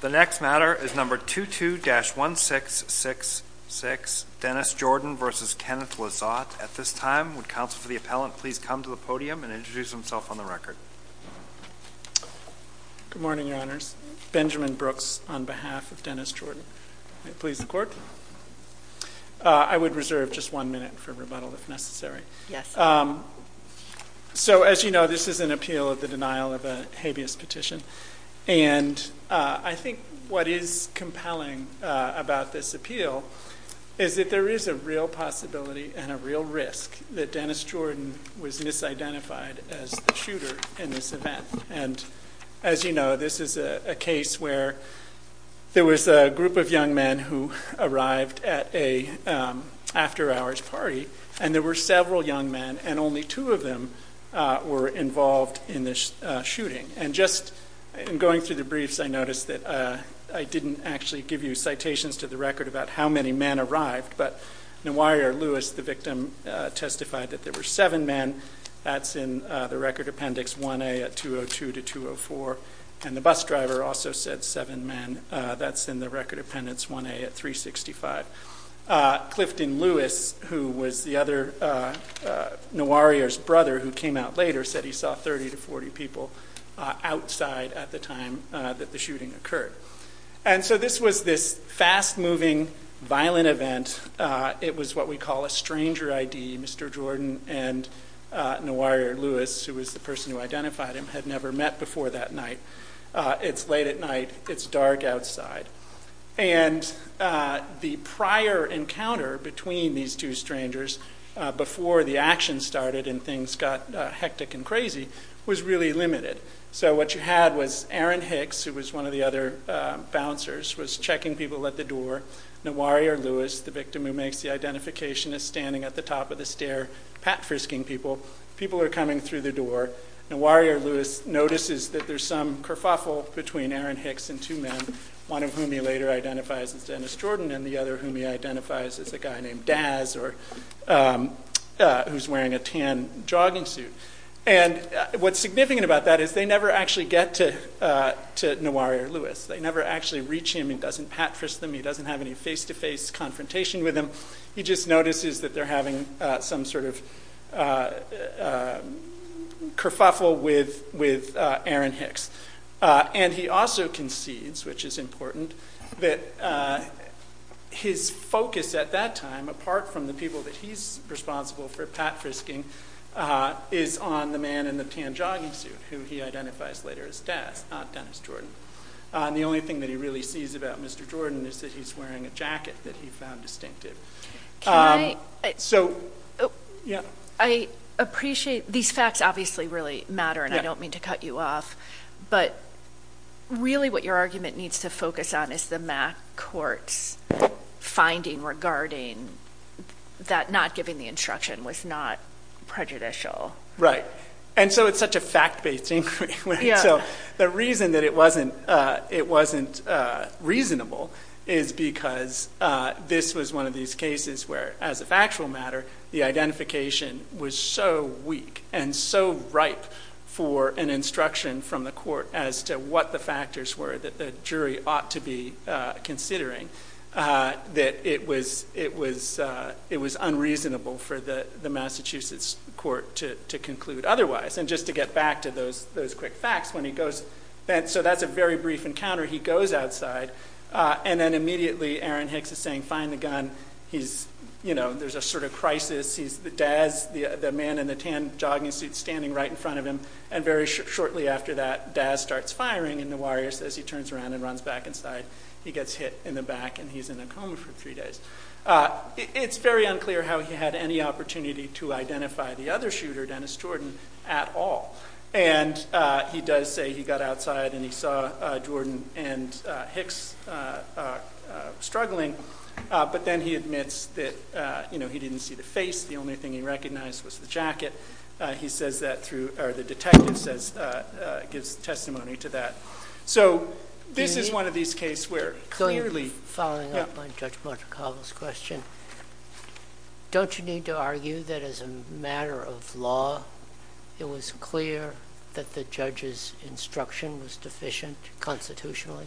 The next matter is number 22-1666, Dennis Jordan v. Kenneth Lizotte. At this time, would counsel for the appellant please come to the podium and introduce himself on the record. Good morning, Your Honors. Benjamin Brooks on behalf of Dennis Jordan. May it please the Court? I would reserve just one minute for rebuttal if necessary. Yes. So as you know, this is an appeal of the denial of a habeas petition. And I think what is compelling about this appeal is that there is a real possibility and a real risk that Dennis Jordan was misidentified as the shooter in this event. And as you know, this is a case where there was a group of young men who arrived at an after-hours party and there were several young men, and only two of them were involved in the shooting. And just in going through the briefs, I noticed that I didn't actually give you citations to the record about how many men arrived, but Newayer Lewis, the victim, testified that there were seven men. That's in the record appendix 1A at 202-204. And the bus driver also said seven men. That's in the record appendix 1A at 365. Clifton Lewis, who was Newayer's brother who came out later, said he saw 30 to 40 people outside at the time that the shooting occurred. And so this was this fast-moving, violent event. It was what we call a stranger ID. Mr. Jordan and Newayer Lewis, who was the person who identified him, had never met before that night. It's late at night. It's dark outside. And the prior encounter between these two strangers, before the action started and things got hectic and crazy, was really limited. So what you had was Aaron Hicks, who was one of the other bouncers, was checking people at the door. Newayer Lewis, the victim who makes the identification, is standing at the top of the stair, pat-frisking people. People are coming through the door. Newayer Lewis notices that there's some kerfuffle between Aaron Hicks and two men, one of whom he later identifies as Dennis Jordan and the other whom he identifies as a guy named Daz, who's wearing a tan jogging suit. And what's significant about that is they never actually get to Newayer Lewis. They never actually reach him. He doesn't pat-frisk them. He doesn't have any face-to-face confrontation with him. He just notices that they're having some sort of kerfuffle with Aaron Hicks. And he also concedes, which is important, that his focus at that time, apart from the people that he's responsible for pat-frisking, is on the man in the tan jogging suit, who he identifies later as Daz, not Dennis Jordan. And the only thing that he really sees about Mr. Jordan is that he's wearing a jacket that he found distinctive. I appreciate these facts obviously really matter, and I don't mean to cut you off, but really what your argument needs to focus on is the MAC Court's finding regarding that not giving the instruction was not prejudicial. Right. And so it's such a fact-based inquiry. The reason that it wasn't reasonable is because this was one of these cases where, as a factual matter, the identification was so weak and so ripe for an instruction from the court as to what the factors were that the jury ought to be considering, that it was unreasonable for the Massachusetts court to conclude otherwise. And just to get back to those quick facts, so that's a very brief encounter. He goes outside, and then immediately Aaron Hicks is saying, find the gun. There's a sort of crisis. Daz, the man in the tan jogging suit, is standing right in front of him. And very shortly after that, Daz starts firing, and the warrior says he turns around and runs back inside. He gets hit in the back, and he's in a coma for three days. It's very unclear how he had any opportunity to identify the other shooter, Dennis Jordan, at all. And he does say he got outside and he saw Jordan and Hicks struggling, but then he admits that he didn't see the face. The only thing he recognized was the jacket. He says that through – or the detective gives testimony to that. So this is one of these cases where clearly – So following up on Judge Monte Carlo's question, don't you need to argue that as a matter of law, it was clear that the judge's instruction was deficient constitutionally?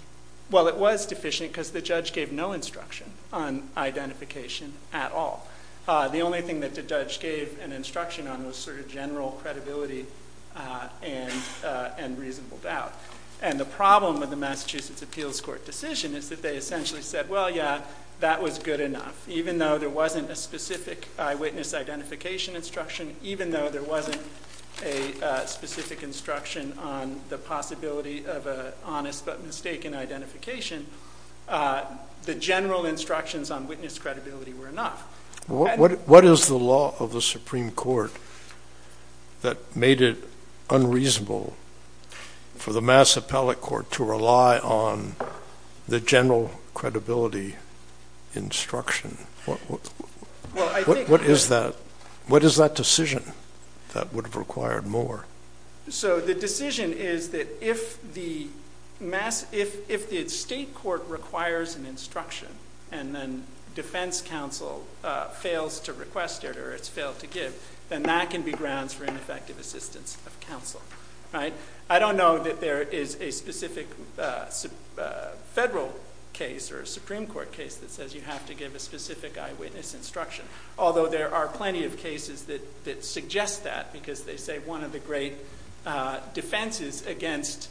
Well, it was deficient because the judge gave no instruction on identification at all. The only thing that the judge gave an instruction on was sort of general credibility and reasonable doubt. And the problem with the Massachusetts Appeals Court decision is that they essentially said, well, yeah, that was good enough. Even though there wasn't a specific eyewitness identification instruction, even though there wasn't a specific instruction on the possibility of an honest but mistaken identification, the general instructions on witness credibility were enough. What is the law of the Supreme Court that made it unreasonable for the Mass Appellate Court to rely on the general credibility instruction? What is that decision that would have required more? So the decision is that if the state court requires an instruction and then defense counsel fails to request it or it's failed to give, then that can be grounds for ineffective assistance of counsel. I don't know that there is a specific federal case or a Supreme Court case that says you have to give a specific eyewitness instruction, although there are plenty of cases that suggest that because they say one of the great defenses against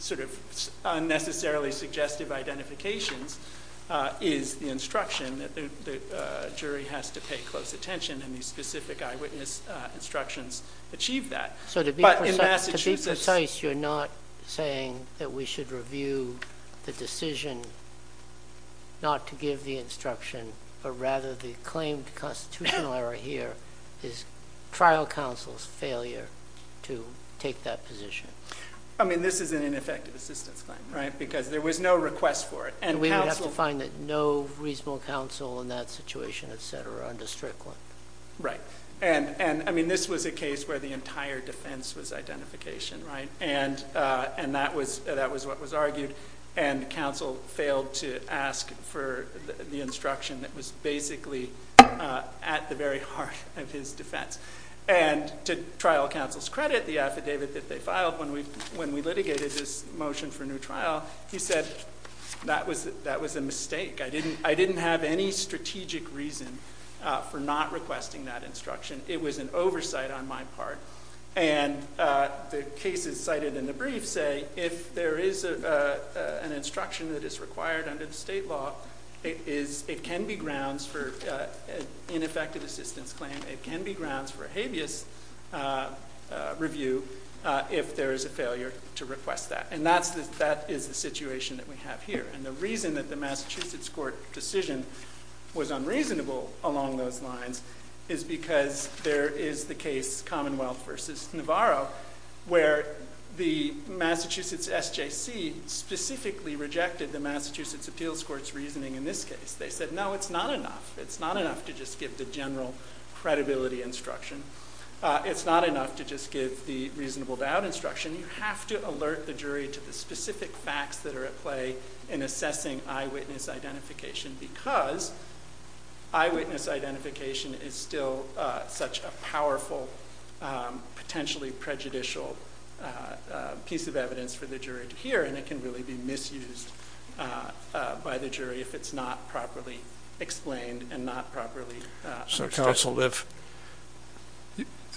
sort of unnecessarily suggestive identifications is the instruction that the jury has to pay close attention, and these specific eyewitness instructions achieve that. So to be precise, you're not saying that we should review the decision not to give the instruction, but rather the claimed constitutional error here is trial counsel's failure to take that position. I mean, this is an ineffective assistance claim, right, because there was no request for it. And we would have to find that no reasonable counsel in that situation, et cetera, under Strickland. Right. And, I mean, this was a case where the entire defense was identification, right, and that was what was argued, and counsel failed to ask for the instruction that was basically at the very heart of his defense. And to trial counsel's credit, the affidavit that they filed when we litigated this motion for new trial, he said that was a mistake. I didn't have any strategic reason for not requesting that instruction. It was an oversight on my part. And the cases cited in the brief say if there is an instruction that is required under the state law, it can be grounds for an ineffective assistance claim. It can be grounds for a habeas review if there is a failure to request that. And that is the situation that we have here. And the reason that the Massachusetts Court decision was unreasonable along those lines is because there is the case, Commonwealth v. Navarro, where the Massachusetts SJC specifically rejected the Massachusetts Appeals Court's reasoning in this case. They said, no, it's not enough. It's not enough to just give the general credibility instruction. It's not enough to just give the reasonable doubt instruction. You have to alert the jury to the specific facts that are at play in assessing eyewitness identification because eyewitness identification is still such a powerful, potentially prejudicial piece of evidence for the jury to hear, and it can really be misused by the jury if it's not properly explained and not properly understood. So counsel,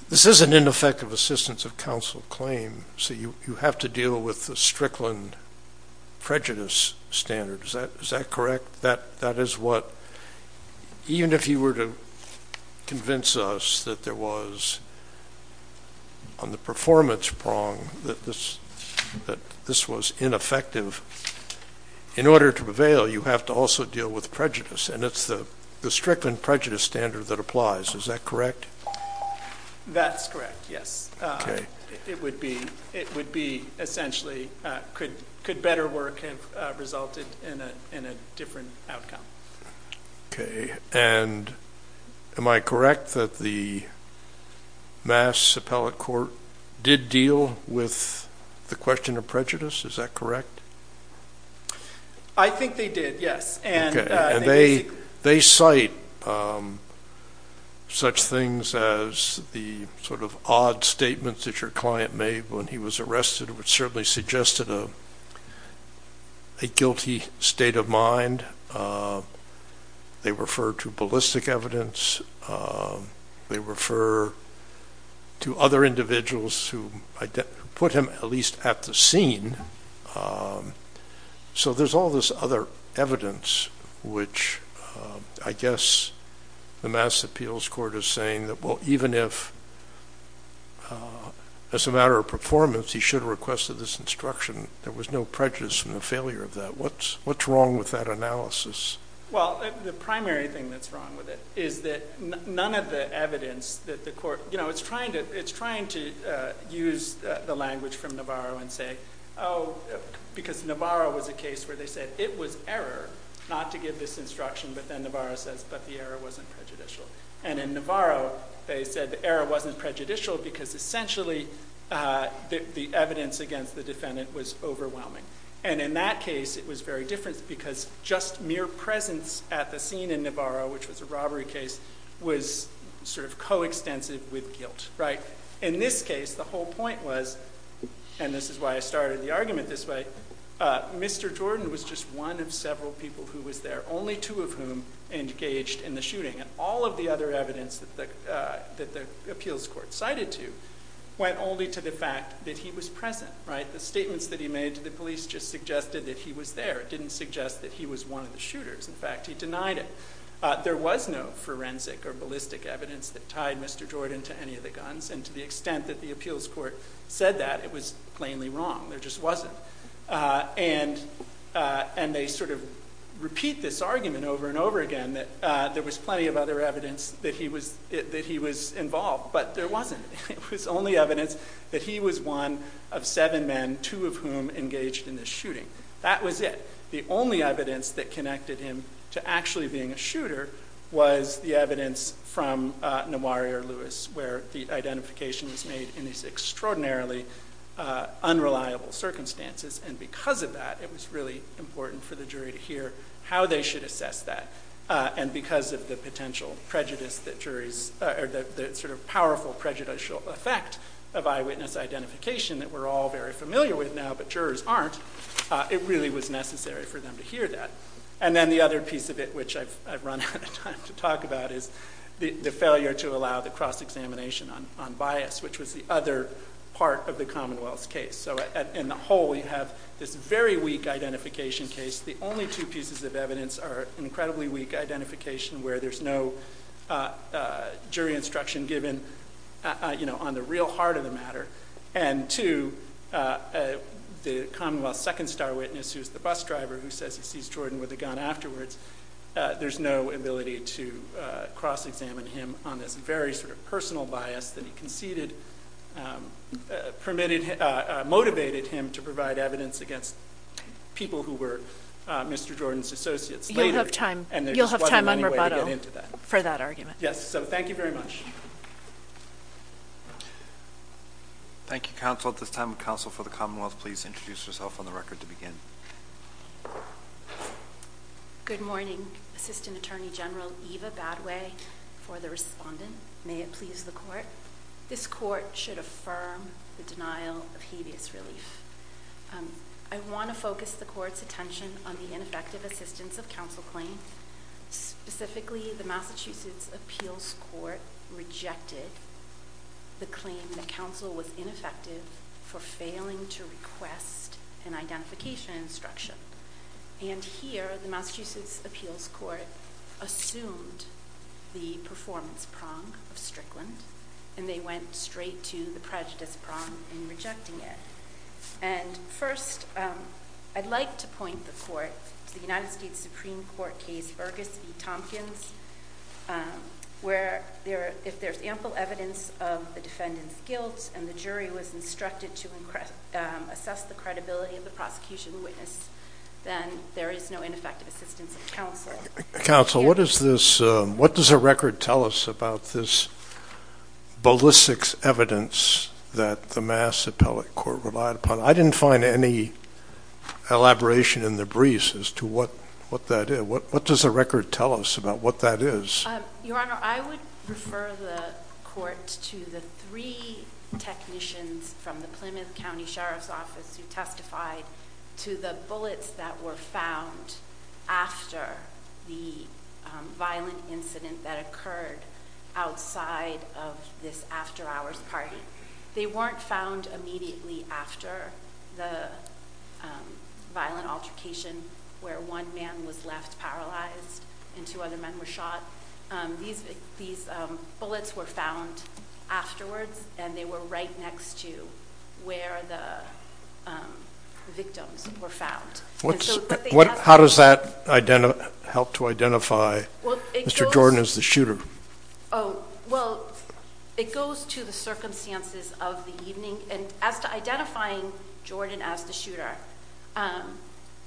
this is an ineffective assistance of counsel claim, so you have to deal with the Strickland prejudice standard. Is that correct? That is what, even if you were to convince us that there was on the performance prong that this was ineffective, in order to prevail, you have to also deal with prejudice. And it's the Strickland prejudice standard that applies. Is that correct? That's correct, yes. It would be essentially could better work have resulted in a different outcome. Okay. And am I correct that the Mass Appellate Court did deal with the question of prejudice? Is that correct? I think they did, yes. Okay. And they cite such things as the sort of odd statements that your client made when he was arrested, which certainly suggested a guilty state of mind. They refer to ballistic evidence. They refer to other individuals who put him at least at the scene. So there's all this other evidence, which I guess the Mass Appeals Court is saying that, well, even if as a matter of performance he should have requested this instruction, there was no prejudice in the failure of that. What's wrong with that analysis? Well, the primary thing that's wrong with it is that none of the evidence that the court, you know, it's trying to use the language from Navarro and say, oh, because Navarro was a case where they said it was error not to give this instruction, but then Navarro says, but the error wasn't prejudicial. And in Navarro they said the error wasn't prejudicial because essentially the evidence against the defendant was overwhelming. And in that case it was very different because just mere presence at the scene in Navarro, which was a robbery case, was sort of coextensive with guilt, right? In this case the whole point was, and this is why I started the argument this way, Mr. Jordan was just one of several people who was there, only two of whom engaged in the shooting. And all of the other evidence that the appeals court cited to went only to the fact that he was present, right? The statements that he made to the police just suggested that he was there. It didn't suggest that he was one of the shooters. In fact, he denied it. There was no forensic or ballistic evidence that tied Mr. Jordan to any of the guns, and to the extent that the appeals court said that, it was plainly wrong. There just wasn't. And they sort of repeat this argument over and over again that there was plenty of other evidence that he was involved, but there wasn't. It was only evidence that he was one of seven men, two of whom engaged in the shooting. That was it. The only evidence that connected him to actually being a shooter was the evidence from Nawari or Lewis, where the identification was made in these extraordinarily unreliable circumstances, and because of that it was really important for the jury to hear how they should assess that. And because of the potential prejudice that juries, or the sort of powerful prejudicial effect of eyewitness identification that we're all very familiar with now, but jurors aren't, it really was necessary for them to hear that. And then the other piece of it, which I've run out of time to talk about, is the failure to allow the cross-examination on bias, which was the other part of the Commonwealth's case. So in the whole we have this very weak identification case. The only two pieces of evidence are incredibly weak identification, where there's no jury instruction given on the real heart of the matter, and two, the Commonwealth's second star witness, who's the bus driver who says he sees Jordan with a gun afterwards, there's no ability to cross-examine him on this very sort of personal bias that he conceded, motivated him to provide evidence against people who were Mr. Jordan's associates later. You'll have time on rebuttal for that argument. Yes, so thank you very much. Thank you, counsel. At this time, counsel for the Commonwealth, please introduce yourself on the record to begin. Good morning. Assistant Attorney General Eva Badway for the respondent. May it please the court. This court should affirm the denial of habeas relief. I want to focus the court's attention on the ineffective assistance of counsel claim. Specifically, the Massachusetts appeals court rejected the claim that counsel was ineffective for failing to request an identification instruction. And here, the Massachusetts appeals court assumed the performance prong of Strickland, and they went straight to the prejudice prong in rejecting it. And first, I'd like to point the court to the United States Supreme Court case Burgess v. Tompkins, where if there's ample evidence of the defendant's guilt and the jury was instructed to assess the credibility of the prosecution witness, then there is no ineffective assistance of counsel. Counsel, what does the record tell us about this ballistics evidence that the Massachusetts appeals court relied upon? I didn't find any elaboration in the briefs as to what that is. What does the record tell us about what that is? Your Honor, I would refer the court to the three technicians from the Plymouth County Sheriff's Office who testified to the bullets that were found after the violent incident that occurred outside of this after-hours party. They weren't found immediately after the violent altercation where one man was left paralyzed and two other men were shot. These bullets were found afterwards, and they were right next to where the victims were found. How does that help to identify Mr. Jordan as the shooter? Well, it goes to the circumstances of the evening. As to identifying Jordan as the shooter,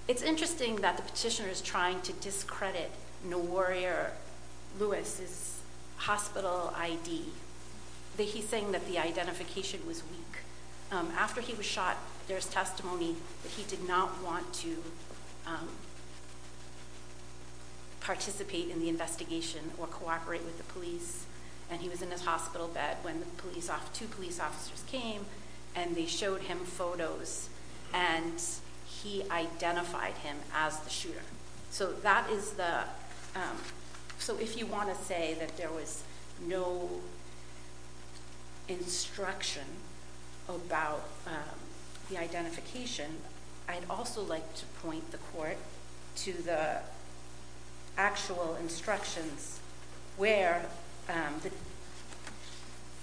it's interesting that the petitioner is trying to discredit No Warrior Lewis' hospital ID. He's saying that the identification was weak. After he was shot, there's testimony that he did not want to participate in the investigation or cooperate with the police. He was in his hospital bed when two police officers came and they showed him photos, and he identified him as the shooter. If you want to say that there was no instruction about the identification, I'd also like to point the court to the actual instructions where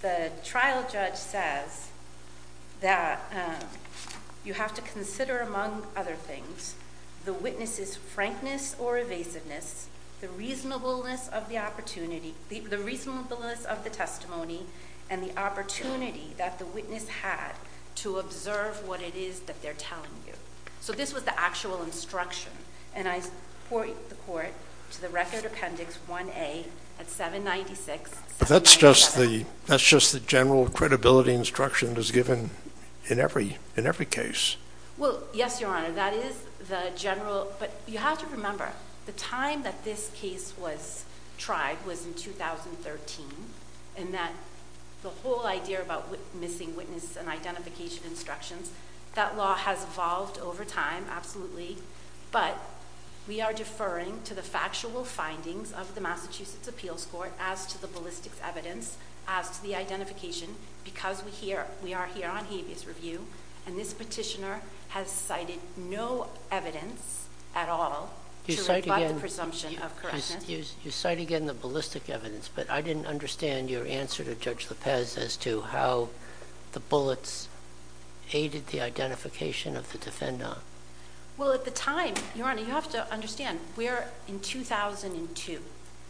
the trial judge says that you have to consider, among other things, the witness's frankness or evasiveness, the reasonableness of the testimony, and the opportunity that the witness had to observe what it is that they're telling you. So this was the actual instruction, and I point the court to the Record Appendix 1A at 796. But that's just the general credibility instruction that's given in every case. Well, yes, Your Honor, that is the general. But you have to remember, the time that this case was tried was in 2013, and that the whole idea about missing witness and identification instructions, that law has evolved over time, absolutely. But we are deferring to the factual findings of the Massachusetts Appeals Court as to the ballistics evidence, as to the identification, because we are here on habeas review, and this petitioner has cited no evidence at all to rebut the presumption of correctness. You cite again the ballistic evidence, but I didn't understand your answer to Judge Lopez as to how the bullets aided the identification of the defendant. Well, at the time, Your Honor, you have to understand, we are in 2002.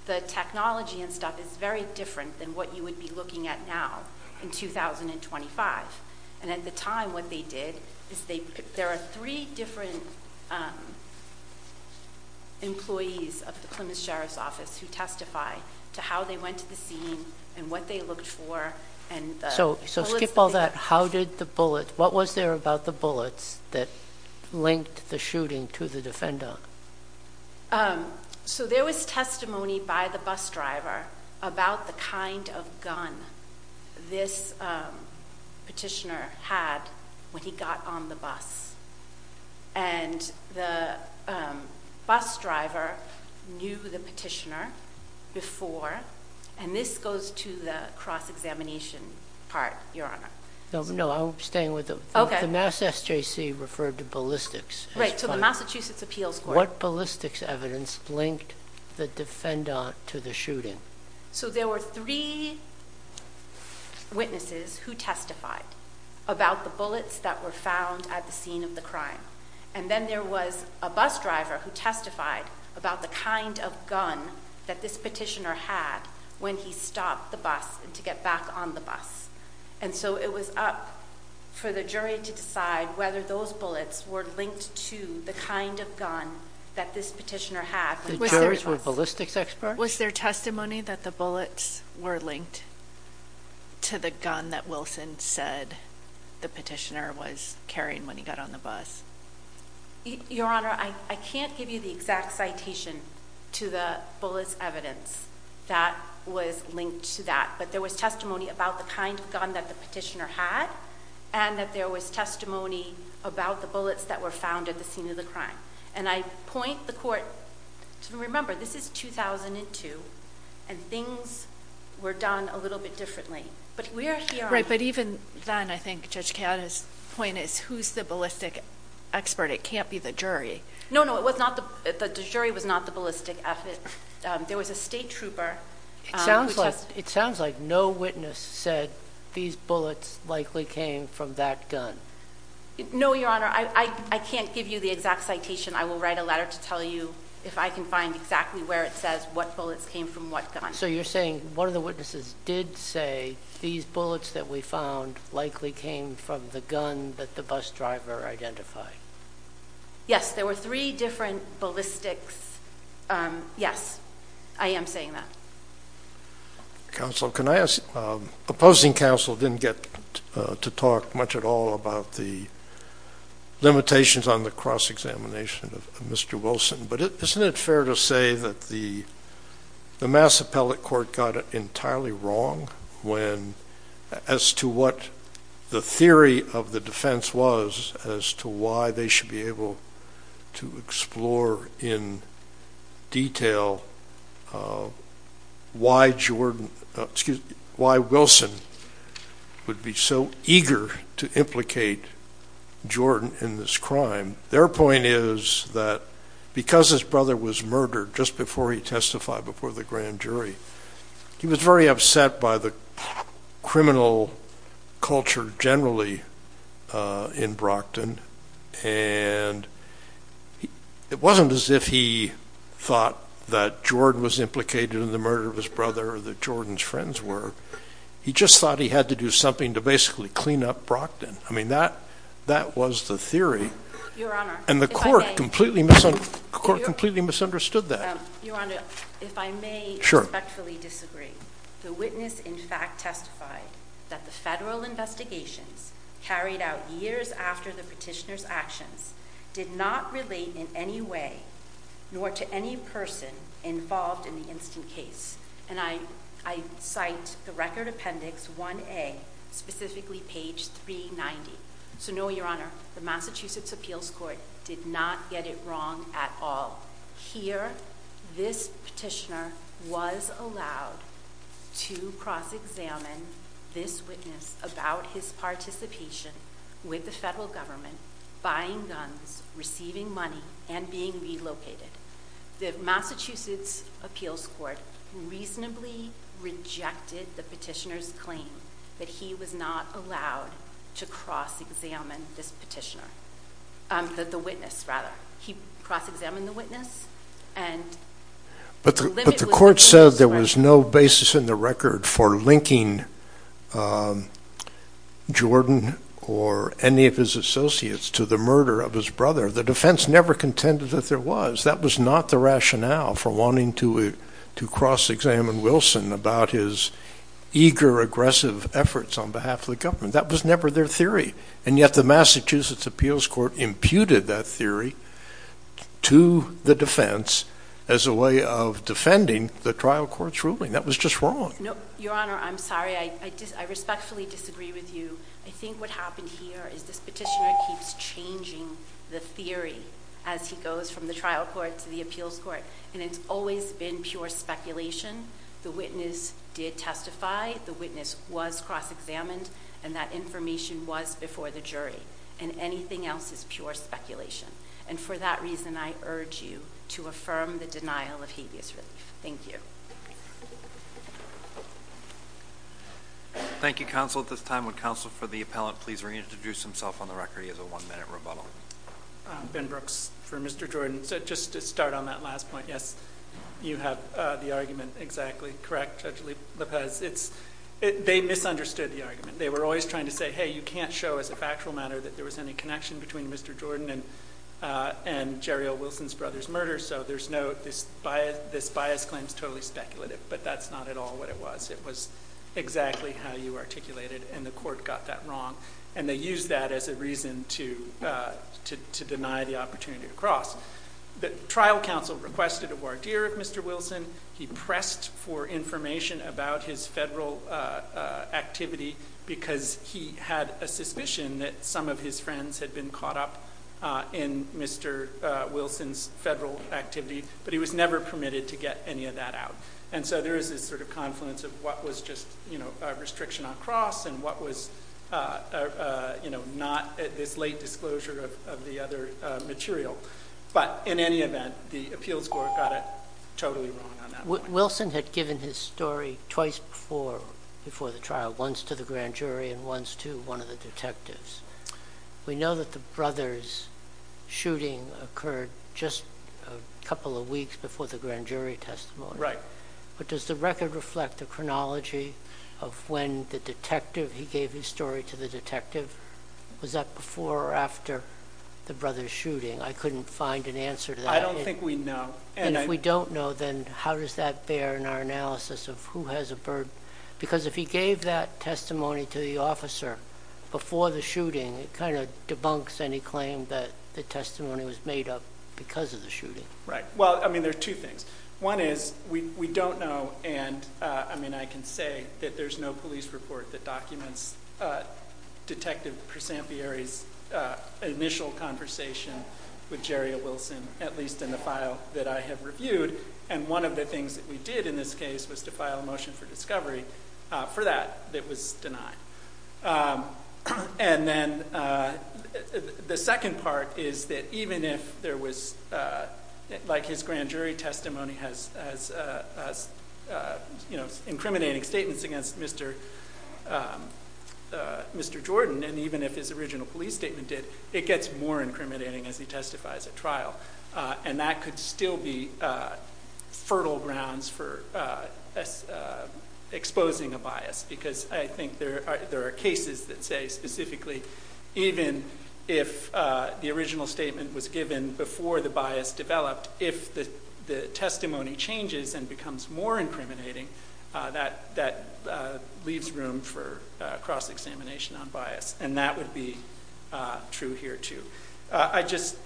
The technology and stuff is very different than what you would be looking at now in 2025. And at the time, what they did is, there are three different employees of the Plymouth Sheriff's Office who testify to how they went to the scene and what they looked for. So skip all that. What was there about the bullets that linked the shooting to the defendant? So there was testimony by the bus driver about the kind of gun this petitioner had when he got on the bus. And the bus driver knew the petitioner before, and this goes to the cross-examination part, Your Honor. No, I'm staying with it. The Mass SJC referred to ballistics. Right, so the Massachusetts Appeals Court. What ballistics evidence linked the defendant to the shooting? So there were three witnesses who testified about the bullets that were found at the scene of the crime. And then there was a bus driver who testified about the kind of gun that this petitioner had when he stopped the bus to get back on the bus. And so it was up for the jury to decide whether those bullets were linked to the kind of gun that this petitioner had. The jurors were ballistics experts? Was there testimony that the bullets were linked to the gun that Wilson said the petitioner was carrying when he got on the bus? Your Honor, I can't give you the exact citation to the bullets evidence that was linked to that. But there was testimony about the kind of gun that the petitioner had, and that there was testimony about the bullets that were found at the scene of the crime. And I point the court to remember, this is 2002, and things were done a little bit differently. Right, but even then, I think Judge Keanu's point is, who's the ballistics expert? It can't be the jury. No, no, the jury was not the ballistics expert. There was a state trooper. It sounds like no witness said these bullets likely came from that gun. No, Your Honor, I can't give you the exact citation. I will write a letter to tell you if I can find exactly where it says what bullets came from what gun. So you're saying one of the witnesses did say these bullets that we found likely came from the gun that the bus driver identified? Yes, there were three different ballistics. Yes, I am saying that. Counsel, can I ask, opposing counsel didn't get to talk much at all about the limitations on the cross-examination of Mr. Wilson, but isn't it fair to say that the Mass Appellate Court got it entirely wrong as to what the theory of the defense was, as to why they should be able to explore in detail why Wilson would be so eager to implicate Jordan in this crime. Their point is that because his brother was murdered just before he testified before the grand jury, he was very upset by the criminal culture generally in Brockton, and it wasn't as if he thought that Jordan was implicated in the murder of his brother or that Jordan's friends were. He just thought he had to do something to basically clean up Brockton. I mean, that was the theory, and the court completely misunderstood that. Your Honor, if I may respectfully disagree. The witness, in fact, testified that the federal investigations carried out years after the petitioner's actions did not relate in any way nor to any person involved in the instant case. And I cite the Record Appendix 1A, specifically page 390. So no, Your Honor, the Massachusetts Appeals Court did not get it wrong at all. Here, this petitioner was allowed to cross-examine this witness about his participation with the federal government, buying guns, receiving money, and being relocated. The Massachusetts Appeals Court reasonably rejected the petitioner's claim that he was not allowed to cross-examine this petitioner, the witness, rather. He cross-examined the witness, and the limit was that he was not allowed to cross-examine him. But the court said there was no basis in the record for linking Jordan or any of his associates to the murder of his brother. The defense never contended that there was. That was not the rationale for wanting to cross-examine Wilson about his eager, aggressive efforts on behalf of the government. That was never their theory. And yet the Massachusetts Appeals Court imputed that theory to the defense as a way of defending the trial court's ruling. That was just wrong. No, Your Honor, I'm sorry. I respectfully disagree with you. I think what happened here is this petitioner keeps changing the theory as he goes from the trial court to the appeals court. And it's always been pure speculation. The witness did testify. The witness was cross-examined, and that information was before the jury. And anything else is pure speculation. And for that reason, I urge you to affirm the denial of habeas relief. Thank you. Thank you, counsel. At this time, would counsel for the appellant please reintroduce himself on the record? He has a one-minute rebuttal. Ben Brooks for Mr. Jordan. So just to start on that last point, yes, you have the argument exactly correct, Judge Lippez. They misunderstood the argument. They were always trying to say, hey, you can't show as a factual matter that there was any connection between Mr. Jordan and Jerry L. Wilson's brother's murder. So this bias claim is totally speculative. But that's not at all what it was. It was exactly how you articulated it, and the court got that wrong. And they used that as a reason to deny the opportunity to cross. The trial counsel requested a voir dire of Mr. Wilson. He pressed for information about his federal activity because he had a suspicion that some of his friends had been caught up in Mr. Wilson's federal activity. But he was never permitted to get any of that out. And so there is this sort of confluence of what was just a restriction on cross and what was not this late disclosure of the other material. But in any event, the appeals court got it totally wrong on that point. Wilson had given his story twice before the trial, once to the grand jury and once to one of the detectives. We know that the brothers' shooting occurred just a couple of weeks before the grand jury testimony. Right. But does the record reflect the chronology of when the detective, he gave his story to the detective? Was that before or after the brothers' shooting? I couldn't find an answer to that. I don't think we know. And if we don't know, then how does that bear in our analysis of who has a burden? Because if he gave that testimony to the officer before the shooting, it kind of debunks any claim that the testimony was made up because of the shooting. Right. Well, I mean, there are two things. One is we don't know. And, I mean, I can say that there's no police report that documents Detective Presampieri's initial conversation with Jerry Wilson, at least in the file that I have reviewed. And one of the things that we did in this case was to file a motion for discovery for that that was denied. And then the second part is that even if there was, like his grand jury testimony has, you know, incriminating statements against Mr. Jordan, and even if his original police statement did, it gets more incriminating as he testifies at trial. And that could still be fertile grounds for exposing a bias. Because I think there are cases that say specifically even if the original statement was given before the bias developed, if the testimony changes and becomes more incriminating, that leaves room for cross-examination on bias. And that would be true here, too. I just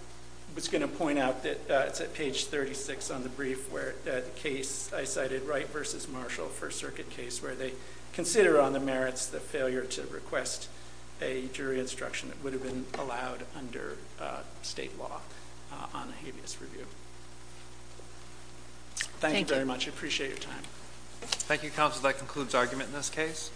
was going to point out that it's at page 36 on the brief where the case I cited, Wright v. Marshall, First Circuit case, where they consider on the merits the failure to request a jury instruction that would have been allowed under state law on a habeas review. Thank you very much. I appreciate your time. Thank you, counsel. That concludes argument in this case.